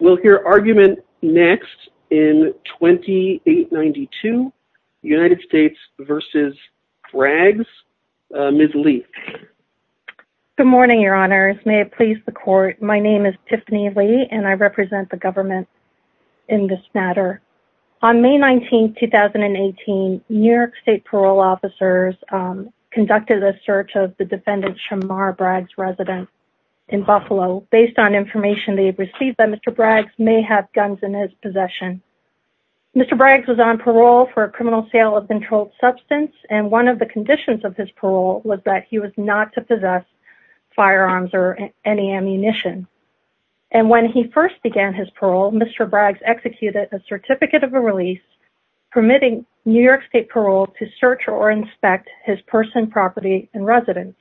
We'll hear argument next in 2892, United States v. Braggs. Ms. Lee. Good morning, your honors. May it please the court, my name is Tiffany Lee and I represent the government in this matter. On May 19, 2018, New York State parole officers conducted a search of the defendant Shamar Braggs' residence in Buffalo based on information they received that Mr. Braggs may have guns in his possession. Mr. Braggs was on parole for a criminal sale of controlled substance and one of the conditions of his parole was that he was not to possess firearms or any ammunition. And when he first began his parole, Mr. Braggs executed a certificate of release permitting New York State parole to search or inspect his person, property, and residence.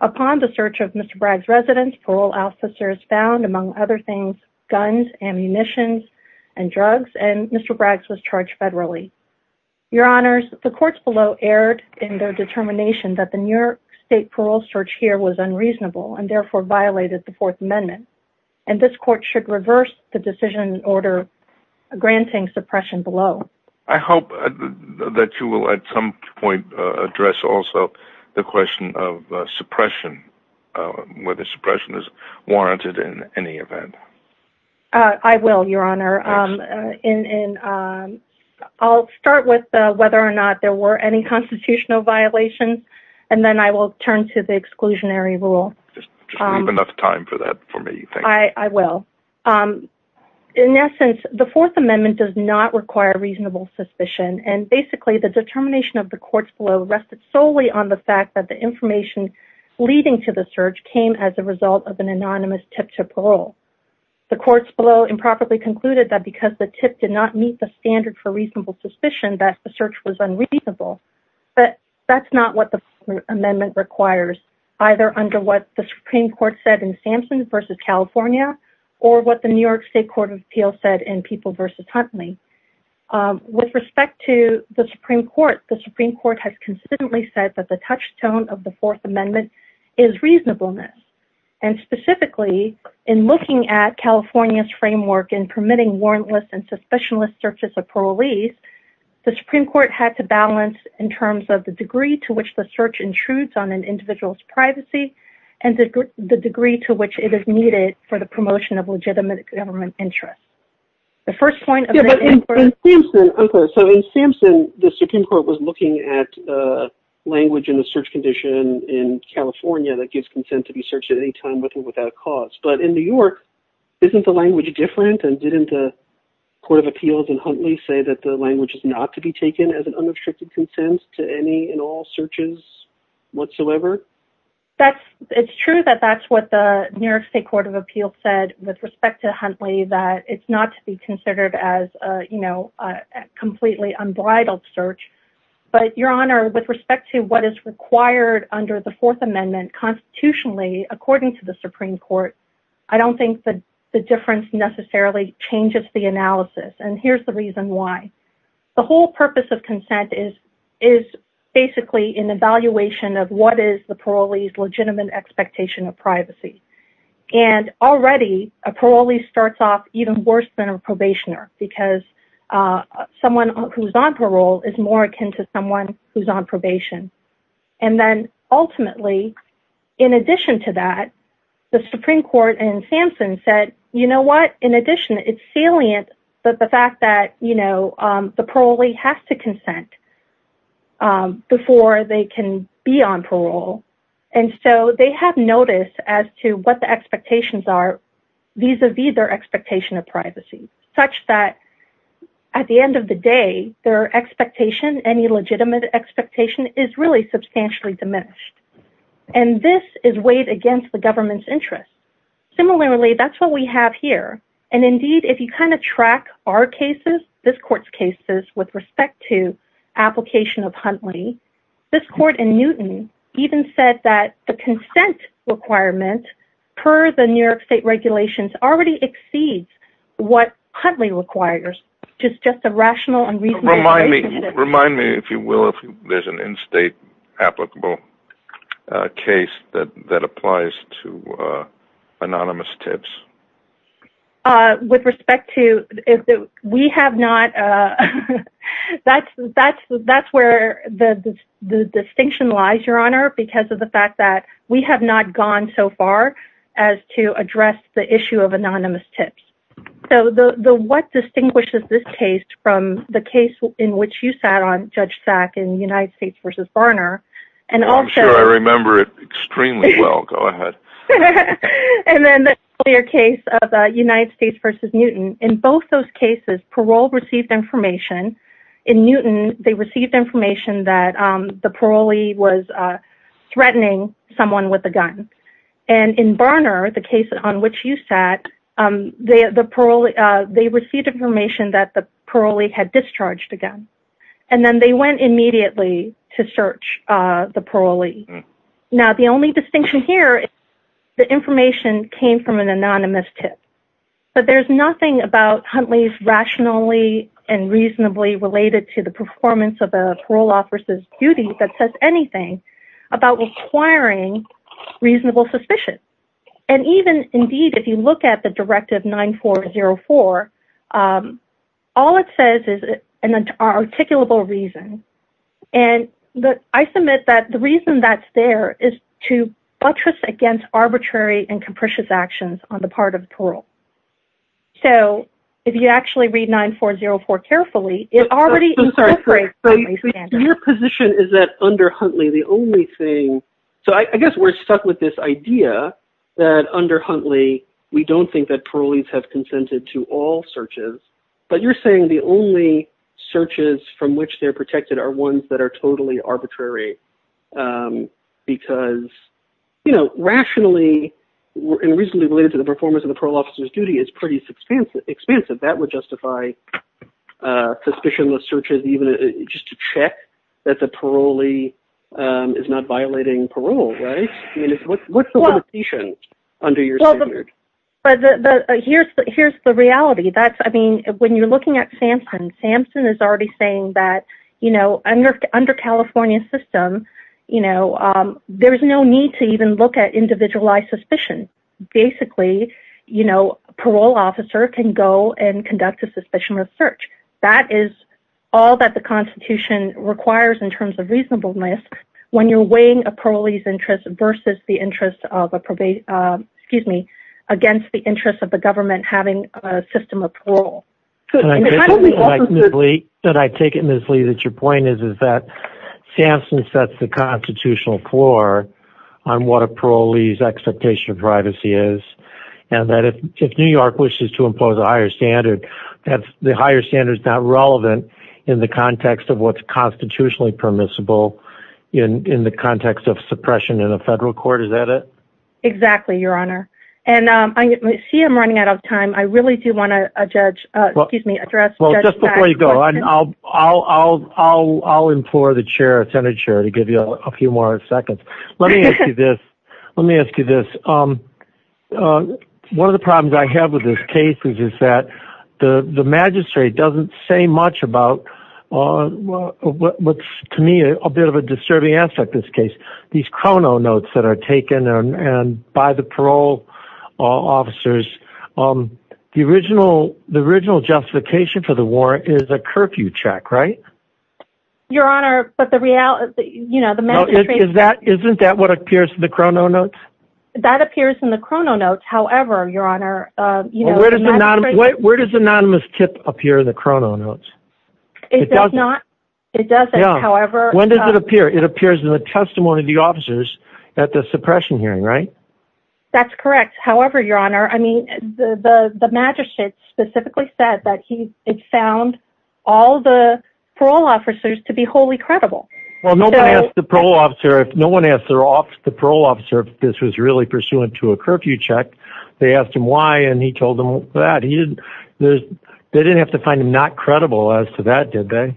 Upon the search of Mr. Braggs' residence, parole officers found, among other things, guns, ammunition, and drugs, and Mr. Braggs was charged federally. Your honors, the courts below erred in their determination that the New York State parole search here was unreasonable and therefore violated the Fourth Amendment. And this court should reverse the decision order granting suppression below. I hope that you will at some point address also the question of suppression, whether suppression is warranted in any event. I will, your honor. I'll start with whether or not there were any constitutional violations and then I will turn to the exclusionary rule. Just leave enough time for that for me. I will. In essence, the Fourth Amendment does not require reasonable suspicion. And basically, the determination of the courts below rested solely on the fact that the information leading to the search came as a result of an anonymous tip to parole. The courts below improperly concluded that because the tip did not meet the standard for reasonable suspicion that the search was unreasonable. But that's not what the amendment requires, either under what the Supreme Court said in Sampson v. California or what the New York State Court of Appeals said in People v. Huntley. With respect to the Supreme Court, the Supreme Court has consistently said that the touchstone of the Fourth Amendment is reasonableness. And specifically, in looking at California's framework in permitting warrantless and suspicionless searches of parolees, the Supreme Court had to balance in terms of the degree to which the search intrudes on an individual's privacy and the degree to which it is needed for the promotion of legitimate government interest. In Sampson, the Supreme Court was looking at language in the search condition in California that gives consent to be searched at any time with or without cause. But in New York, isn't the language different? And didn't the Court of Appeals in Huntley say that the language is not to be taken as an unrestricted consent to any and all searches whatsoever? It's true that that's what the New York State Court of Appeals said with respect to Huntley, that it's not to be considered as a completely unbridled search. But, Your Honor, with respect to what is required under the Fourth Amendment constitutionally, according to the Supreme Court, I don't think the difference necessarily changes the analysis. And here's the reason why. The whole purpose of consent is basically an evaluation of what is the parolee's legitimate expectation of privacy. And already, a parolee starts off even worse than a probationer because someone who's on parole is more akin to someone who's on probation. And then, ultimately, in addition to that, the Supreme Court in Sampson said, you know what, in addition, it's salient that the fact that the parolee has to consent before they can be on parole. And so they have notice as to what the expectations are vis-a-vis their expectation of privacy, such that at the end of the day, their expectation, any legitimate expectation, is really substantially diminished. And this is weighed against the government's interest. Similarly, that's what we have here. And indeed, if you kind of track our cases, this court's cases, with respect to application of Huntley, this court in Newton even said that the consent requirement per the New York state regulations already exceeds what Huntley requires. Remind me, if you will, if there's an in-state applicable case that applies to anonymous tips. With respect to, we have not, that's where the distinction lies, Your Honor, because of the fact that we have not gone so far as to address the issue of anonymous tips. So what distinguishes this case from the case in which you sat on, Judge Sack, in United States v. Barner? I'm sure I remember it extremely well. Go ahead. And then the earlier case of United States v. Newton, in both those cases, parole received information. In Newton, they received information that the parolee was threatening someone with a gun. And in Barner, the case on which you sat, they received information that the parolee had discharged a gun. And then they went immediately to search the parolee. Now, the only distinction here, the information came from an anonymous tip. But there's nothing about Huntley's rationally and reasonably related to the performance of a parole officer's duty that says anything about requiring reasonable suspicion. And even, indeed, if you look at the Directive 9404, all it says is an articulable reason. And I submit that the reason that's there is to buttress against arbitrary and capricious actions on the part of the parole. So if you actually read 9404 carefully, it already incorporates Huntley's standards. Your position is that under Huntley, the only thing... So I guess we're stuck with this idea that under Huntley, we don't think that parolees have consented to all searches. But you're saying the only searches from which they're protected are ones that are totally arbitrary. Because, you know, rationally and reasonably related to the performance of the parole officer's duty is pretty expansive. That would justify suspicionless searches, even just to check that the parolee is not violating parole, right? I mean, what's the limitation under your standard? Here's the reality. When you're looking at Sampson, Sampson is already saying that under California's system, there's no need to even look at individualized suspicion. Basically, a parole officer can go and conduct a suspicionless search. That is all that the Constitution requires in terms of reasonableness when you're weighing a parolee's interest versus the interest of a probation... Excuse me. Against the interest of the government having a system of parole. Can I take it, Ms. Lee, that your point is that Sampson sets the constitutional floor on what a parolee's expectation of privacy is. And that if New York wishes to impose a higher standard, the higher standard is not relevant in the context of what's constitutionally permissible in the context of suppression in a federal court. Is that it? Exactly, Your Honor. And I see I'm running out of time. I really do want to judge... Well... Excuse me... Well, just before you go, I'll implore the chair, the senate chair, to give you a few more seconds. Let me ask you this. Let me ask you this. One of the problems I have with this case is that the magistrate doesn't say much about what's, to me, a bit of a disturbing aspect of this case. These chrono notes that are taken by the parole officers, the original justification for the warrant is a curfew check, right? Your Honor, but the reality... Isn't that what appears in the chrono notes? That appears in the chrono notes. However, Your Honor... Where does anonymous tip appear in the chrono notes? It does not. It doesn't. However... When does it appear? It appears in the testimony of the officers at the suppression hearing, right? That's correct. However, Your Honor, I mean, the magistrate specifically said that he found all the parole officers to be wholly credible. Well, nobody asked the parole officer... No one asked the parole officer if this was really pursuant to a curfew check. They asked him why, and he told them that. They didn't have to find him not credible as to that, did they?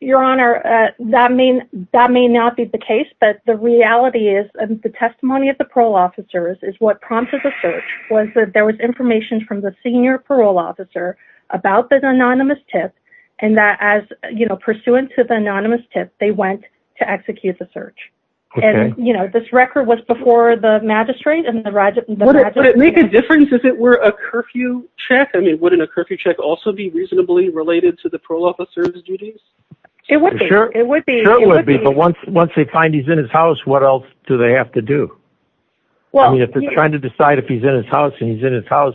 Your Honor, that may not be the case, but the reality is... The testimony of the parole officers is what prompted the search was that there was information from the senior parole officer about the anonymous tip, and that as, you know, pursuant to the anonymous tip, they went to execute the search. Okay. And, you know, this record was before the magistrate and the... Would it make a difference if it were a curfew check? I mean, wouldn't a curfew check also be reasonably related to the parole officer's duties? It would be. It would be. It certainly would be, but once they find he's in his house, what else do they have to do? Well... I mean, if they're trying to decide if he's in his house and he's in his house,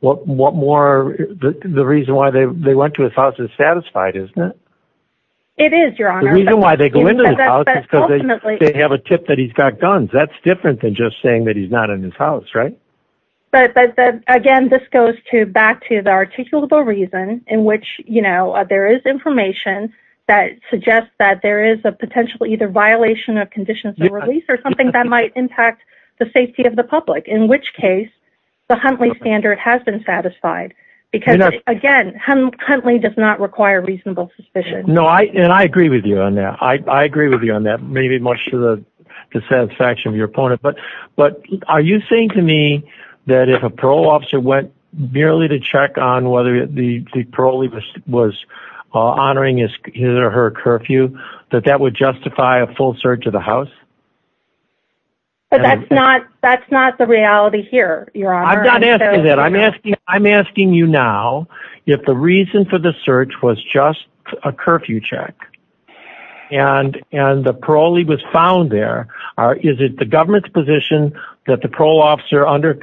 what more... The reason why they went to his house is satisfied, isn't it? It is, Your Honor. The reason why they go into his house is because they have a tip that he's got guns. That's different than just saying that he's not in his house, right? But, again, this goes back to the articulable reason in which, you know, there is information that suggests that there is a potential either violation of conditions of release or something that might impact the safety of the public, in which case the Huntley standard has been satisfied. Because, again, Huntley does not require reasonable suspicion. No, and I agree with you on that. I agree with you on that, maybe much to the dissatisfaction of your opponent. But are you saying to me that if a parole officer went merely to check on whether the parolee was honoring his or her curfew, that that would justify a full search of the house? But that's not the reality here, Your Honor. I'm not asking that. I'm asking you now if the reason for the search was just a curfew check and the parolee was found there. Is it the government's position that the parole officer under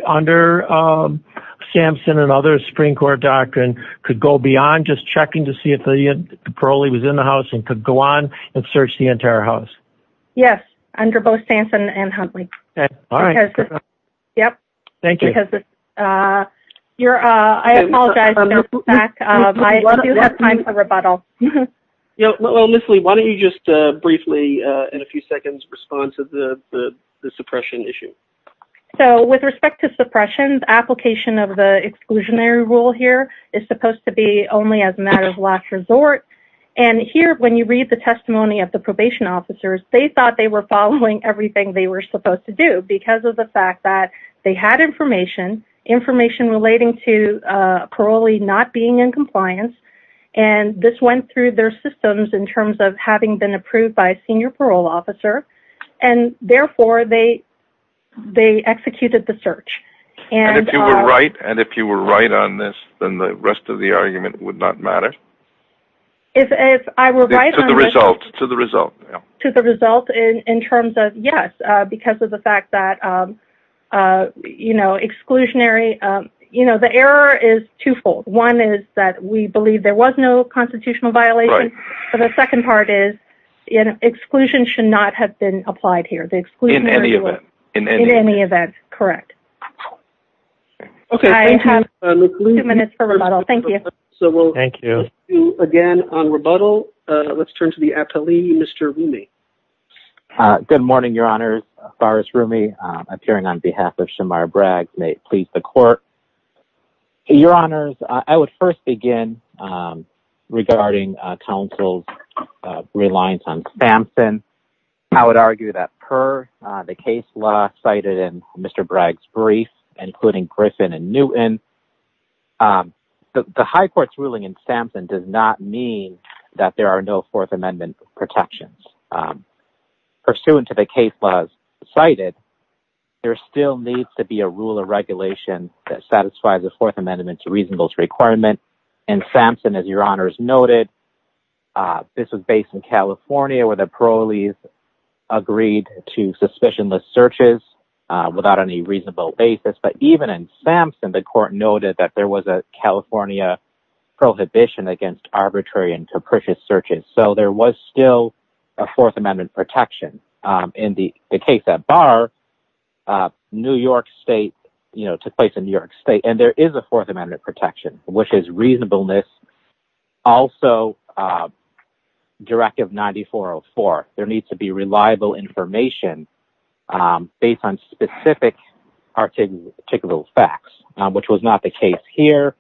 Sampson and other Supreme Court doctrine could go beyond just checking to see if the parolee was in the house and could go on and search the entire house? Yes, under both Sampson and Huntley. Okay. All right. Yep. Thank you. Because you're, I apologize. I do have time for rebuttal. Ms. Lee, why don't you just briefly, in a few seconds, respond to the suppression issue? So, with respect to suppression, the application of the exclusionary rule here is supposed to be only as a matter of last resort. And here, when you read the testimony of the probation officers, they thought they were following everything they were supposed to do because of the fact that they had information, information relating to a parolee not being in compliance. And this went through their systems in terms of having been approved by a senior parole officer. And, therefore, they executed the search. And if you were right, and if you were right on this, then the rest of the argument would not matter? If I were right on this. To the result. To the result. To the result in terms of, yes, because of the fact that, you know, exclusionary, you know, the error is twofold. One is that we believe there was no constitutional violation. Right. The second part is exclusion should not have been applied here. In any event. In any event, correct. Okay. I have two minutes for rebuttal. Thank you. Thank you. Again, on rebuttal, let's turn to the appellee, Mr. Rumi. Good morning, Your Honors. Boris Rumi, appearing on behalf of Shamara Bragg. May it please the Court. Your Honors, I would first begin regarding counsel's reliance on Sampson. I would argue that per the case law cited in Mr. Bragg's brief, including Griffin and Newton, the high court's ruling in Sampson does not mean that there are no Fourth Amendment protections. Pursuant to the case laws cited, there still needs to be a rule of regulation that satisfies a Fourth Amendment to reasonableness requirement. In Sampson, as Your Honors noted, this was based in California where the parolees agreed to suspicionless searches without any reasonable basis. But even in Sampson, the court noted that there was a California prohibition against arbitrary and capricious searches. So, there was still a Fourth Amendment protection. In the case at Barr, New York State, you know, took place in New York State, and there is a Fourth Amendment protection, which is reasonableness. Also, Directive 9404, there needs to be reliable information based on specific, particular facts, which was not the case here.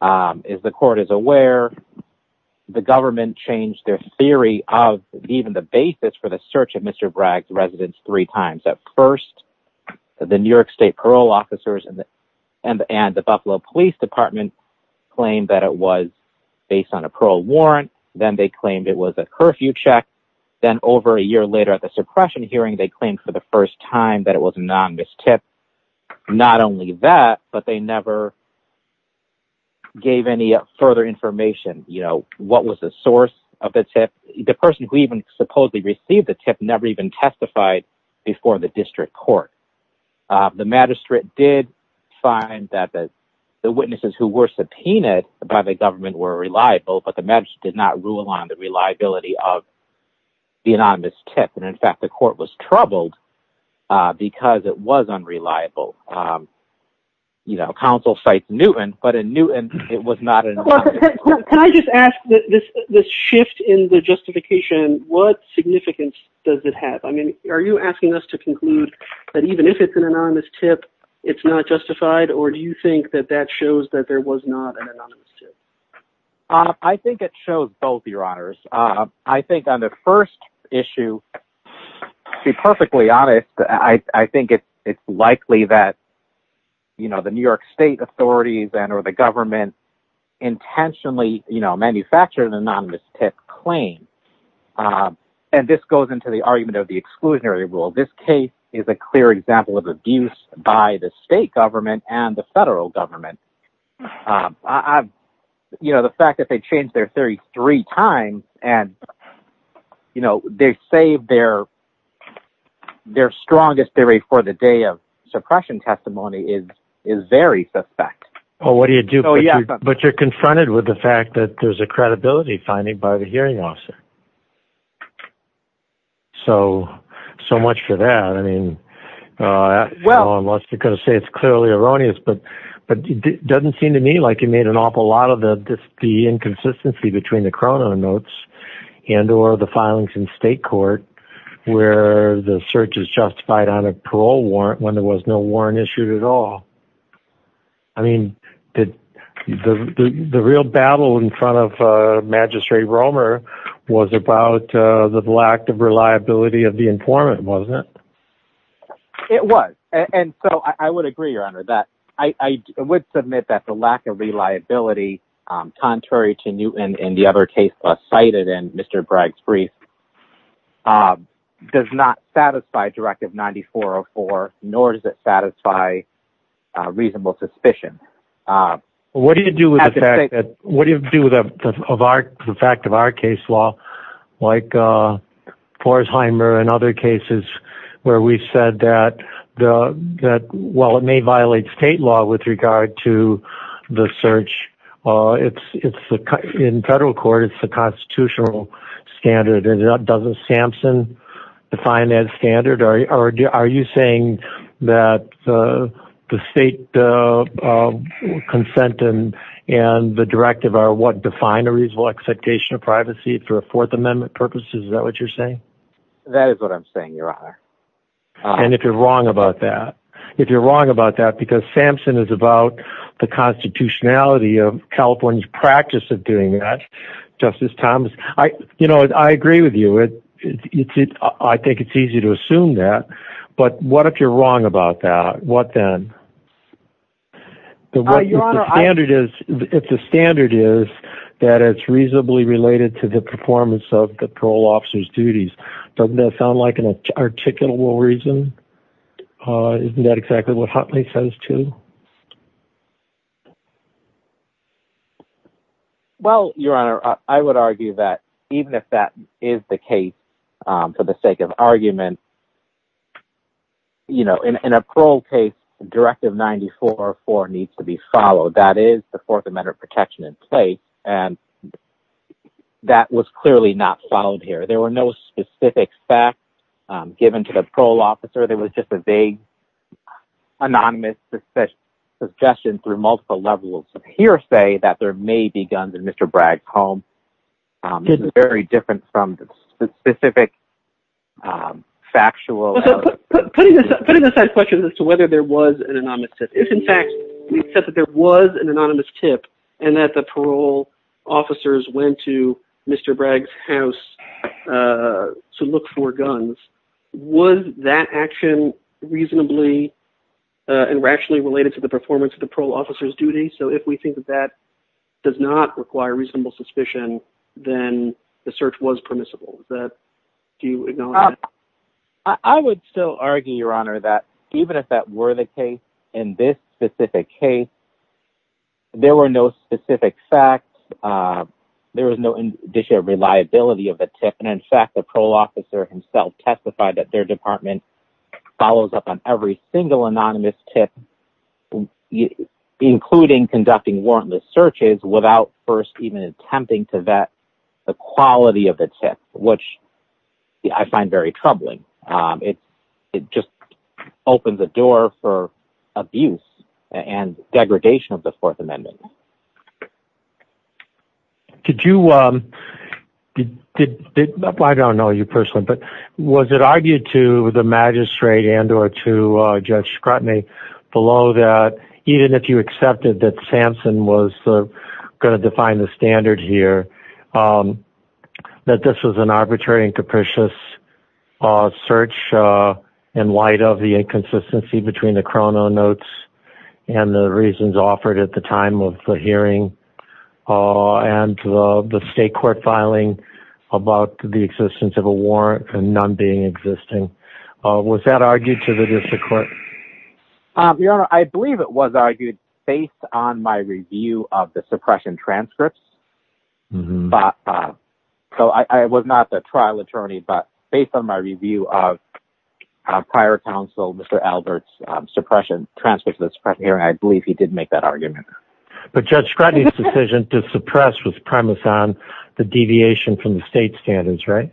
As the court is aware, the government changed their theory of even the basis for the search of Mr. Bragg's residence three times. At first, the New York State parole officers and the Buffalo Police Department claimed that it was based on a parole warrant. Then, they claimed it was a curfew check. Then, over a year later at the suppression hearing, they claimed for the first time that it was a non-mis-tip. Not only that, but they never gave any further information, you know, what was the source of the tip. The person who even supposedly received the tip never even testified before the district court. The magistrate did find that the witnesses who were subpoenaed by the government were reliable, but the magistrate did not rule on the reliability of the anonymous tip. In fact, the court was troubled because it was unreliable. You know, counsel cites Newton, but in Newton, it was not anonymous. Can I just ask, this shift in the justification, what significance does it have? I mean, are you asking us to conclude that even if it's an anonymous tip, it's not justified, or do you think that that shows that there was not an anonymous tip? I think it shows both, Your Honors. I think on the first issue, to be perfectly honest, I think it's likely that the New York State authorities or the government intentionally manufactured an anonymous tip claim. And this goes into the argument of the exclusionary rule. This case is a clear example of abuse by the state government and the federal government. The fact that they changed their theory three times and they saved their strongest theory for the day of suppression testimony is very suspect. But you're confronted with the fact that there's a credibility finding by the hearing officer. So, so much for that. I mean, well, unless you're going to say it's clearly erroneous, but it doesn't seem to me like you made an awful lot of the inconsistency between the Cronon notes and or the filings in state court where the search is justified on a parole warrant when there was no warrant issued at all. I mean, the real battle in front of Magistrate Romer was about the lack of reliability of the informant, wasn't it? It was. And so I would agree, Your Honor, that I would submit that the lack of reliability, contrary to Newton and the other cases cited in Mr. Bragg's brief, does not satisfy Directive 9404, nor does it satisfy reasonable suspicion. What do you do with that? What do you do with the fact of our case law, like Pforzheimer and other cases where we've said that, well, it may violate state law with regard to the search. It's in federal court. It's the constitutional standard. And doesn't Samson define that standard? Are you saying that the state consent and the directive are what define a reasonable expectation of privacy for a Fourth Amendment purposes? Is that what you're saying? And if you're wrong about that, if you're wrong about that, because Samson is about the constitutionality of California's practice of doing that, Justice Thomas, I, you know, I agree with you. I think it's easy to assume that. But what if you're wrong about that? What then? If the standard is that it's reasonably related to the performance of the parole officer's duties, doesn't that sound like an articulable reason? Isn't that exactly what Hotley says too? Well, Your Honor, I would argue that even if that is the case for the sake of argument, you know, in a parole case, Directive 94.4 needs to be followed. That is the Fourth Amendment protection in place. And that was clearly not followed here. There were no specific facts given to the parole officer. There was just a vague anonymous suggestion through multiple levels of hearsay that there may be guns in Mr. Bragg's home. This is very different from the specific factual evidence. Putting aside questions as to whether there was an anonymous tip, if, in fact, we accept that there was an anonymous tip and that the parole officers went to Mr. Bragg's house to look for guns, was that action reasonably and rationally related to the performance of the parole officer's duty? So if we think that that does not require reasonable suspicion, then the search was permissible. I would still argue, Your Honor, that even if that were the case in this specific case, there were no specific facts. There was no indicia of reliability of the tip. And, in fact, the parole officer himself testified that their department follows up on every single anonymous tip, including conducting warrantless searches without first even attempting to vet the quality of the tip, which I find very troubling. It just opens the door for abuse and degradation of the Fourth Amendment. I don't know you personally, but was it argued to the magistrate and or to Judge Scrotney below that, even if you accepted that Samson was going to define the standard here, that this was an arbitrary and capricious search in light of the inconsistency between the chrono notes and the reasons offered at the time of the hearing? And the state court filing about the existence of a warrant and none being existing. Was that argued to the district court? Your Honor, I believe it was argued based on my review of the suppression transcripts. So I was not the trial attorney, but based on my review of prior counsel, Mr. Albert's suppression transcripts of the suppression hearing, I believe he did make that argument. But Judge Scrotney's decision to suppress was premise on the deviation from the state standards, right?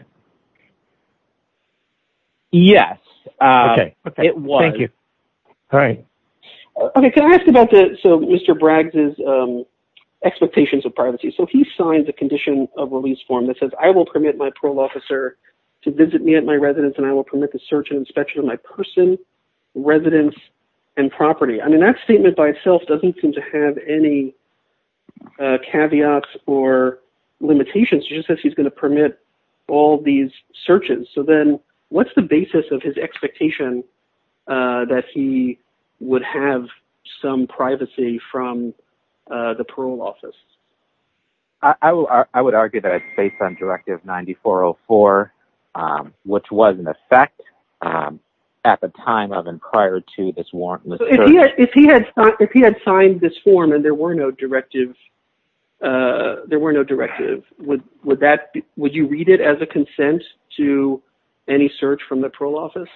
Yes, it was. All right. So Mr. Bragg's expectations of privacy. So he signed the condition of release form that says I will permit my parole officer to visit me at my residence and I will permit the search and inspection of my person, residence and property. I mean, that statement by itself doesn't seem to have any caveats or limitations. He just says he's going to permit all these searches. So then what's the basis of his expectation that he would have some privacy from the parole office? I would argue that it's based on Directive 9404, which was in effect at the time of and prior to this warrantless search. If he had signed this form and there were no directives, would you read it as a consent to any search from the parole office?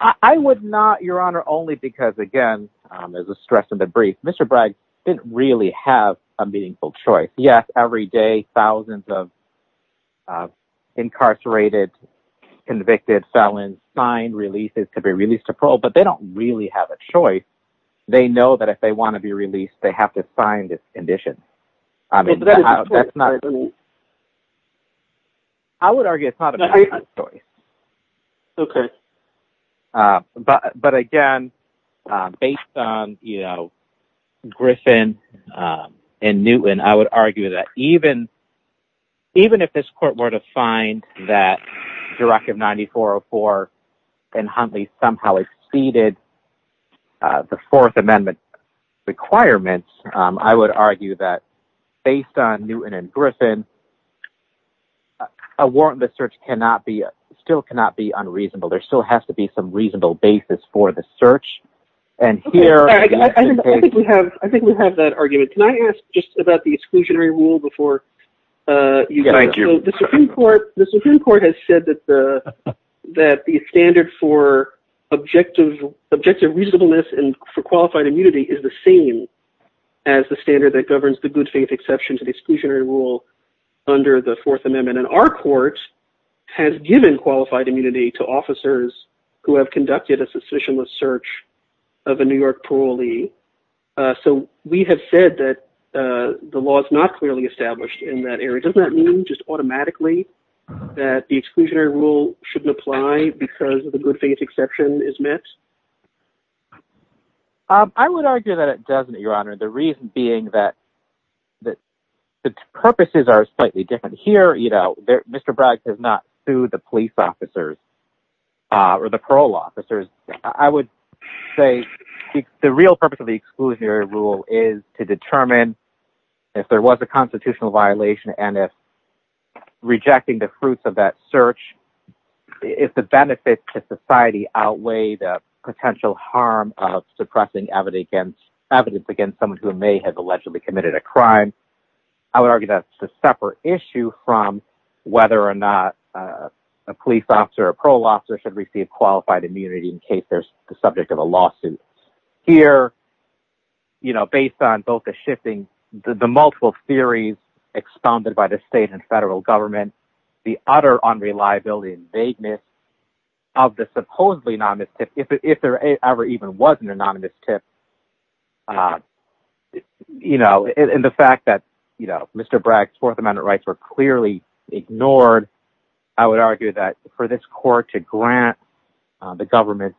I would not, Your Honor, only because, again, as a stress of the brief, Mr. Bragg didn't really have a meaningful choice. Yes, every day, thousands of incarcerated, convicted felons sign releases to be released to parole, but they don't really have a choice. They know that if they want to be released, they have to sign this condition. I mean, that's not... I would argue it's not a choice. Okay. But, again, based on Griffin and Newton, I would argue that even if this court were to find that Directive 9404 and Huntley somehow exceeded the Fourth Amendment requirements, I would argue that based on Newton and Griffin, a warrantless search still cannot be unreasonable. There still has to be some reasonable basis for the search, and here... I think we have that argument. Can I ask just about the exclusionary rule before you... Thank you. So the Supreme Court has said that the standard for objective reasonableness and for qualified immunity is the same as the standard that governs the good faith exception to the exclusionary rule under the Fourth Amendment, and our court has given qualified immunity to officers who have conducted a suspicionless search of a New York parolee. So we have said that the law is not clearly established in that area. Does that mean just automatically that the exclusionary rule shouldn't apply because the good faith exception is met? I would argue that it doesn't, Your Honor, the reason being that the purposes are slightly different. Here, you know, Mr. Bragg does not sue the police officers or the parole officers. I would say the real purpose of the exclusionary rule is to determine if there was a constitutional violation and if rejecting the fruits of that search, if the benefits to society outweigh the potential harm of suppressing evidence against someone who may have allegedly committed a crime. I would argue that's a separate issue from whether or not a police officer or parole officer should receive qualified immunity in case there's the subject of a lawsuit. Here, you know, based on both the shifting, the multiple theories expounded by the state and federal government, the utter unreliability and vagueness of the supposedly anonymous tip, if there ever even was an anonymous tip, you know, and the fact that, you know, Mr. Bragg's Fourth Amendment rights were clearly ignored, I would argue that for this court to grant the government's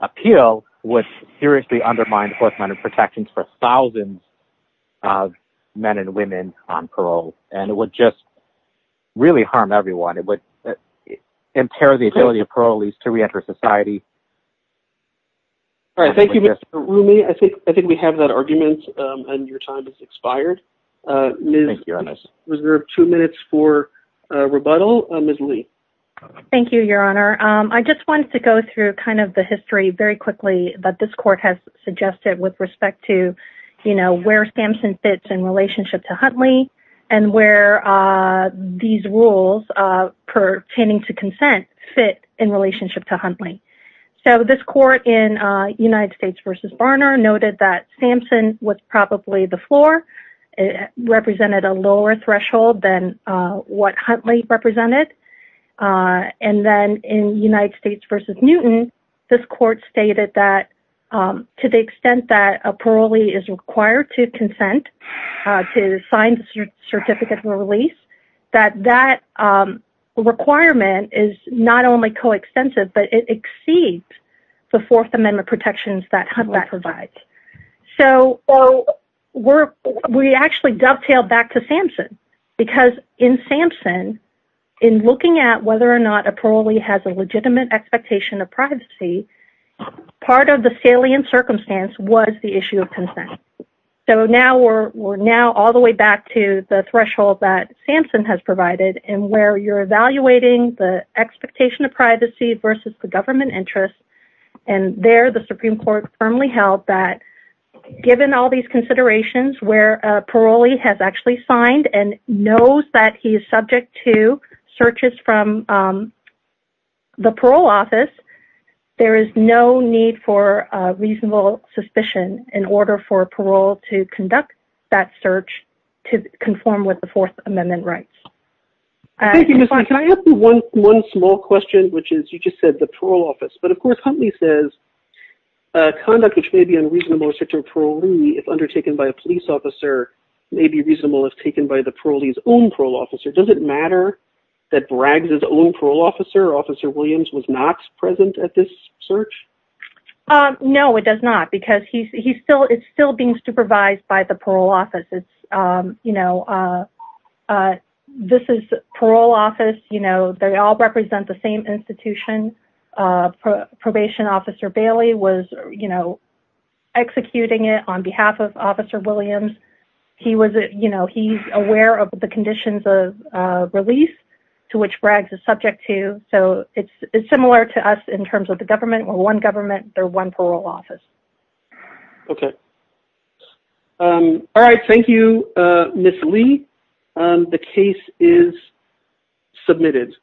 appeal would seriously undermine Fourth Amendment protections for thousands of men and women on parole. And it would just really harm everyone. It would impair the ability of parolees to reenter society. All right. Thank you, Mr. Rumi. I think we have that argument, and your time has expired. Thank you, Your Honor. We reserve two minutes for rebuttal. Ms. Lee. Thank you, Your Honor. I just wanted to go through kind of the history very quickly that this court has suggested with respect to, you know, where Sampson fits in relationship to Huntley and where these rules pertaining to consent fit in relationship to Huntley. So this court in United States v. Barner noted that Sampson was probably the floor, represented a lower threshold than what Huntley represented. And then in United States v. Newton, this court stated that to the extent that a parolee is required to consent to sign the certificate of release, that that requirement is not only coextensive, but it exceeds the Fourth Amendment protections that Huntley provides. So we actually dovetail back to Sampson because in Sampson, in looking at whether or not a parolee has a legitimate expectation of privacy, part of the salient circumstance was the issue of consent. So now we're now all the way back to the threshold that Sampson has provided and where you're evaluating the expectation of privacy versus the government interest. And there, the Supreme Court firmly held that given all these considerations, where a parolee has actually signed and knows that he is subject to searches from the parole office, there is no need for reasonable suspicion in order for parole to conduct that search to conform with the Fourth Amendment rights. Thank you, Ms. Fine. Can I ask you one small question, which is, you just said the parole office. But of course, Huntley says conduct which may be unreasonable or restricted to a parolee, if undertaken by a police officer, may be reasonable if taken by the parolee's own parole officer. Does it matter that Bragg's own parole officer, Officer Williams, was not present at this search? No, it does not, because he's still, it's still being supervised by the parole office. It's, you know, this is parole office, you know, they all represent the same institution. Probation Officer Bailey was, you know, executing it on behalf of Officer Williams. He was, you know, he's aware of the conditions of release to which Bragg's is subject to. So it's similar to us in terms of the government. We're one government. They're one parole office. Okay. All right. Thank you, Ms. Lee. The case is submitted.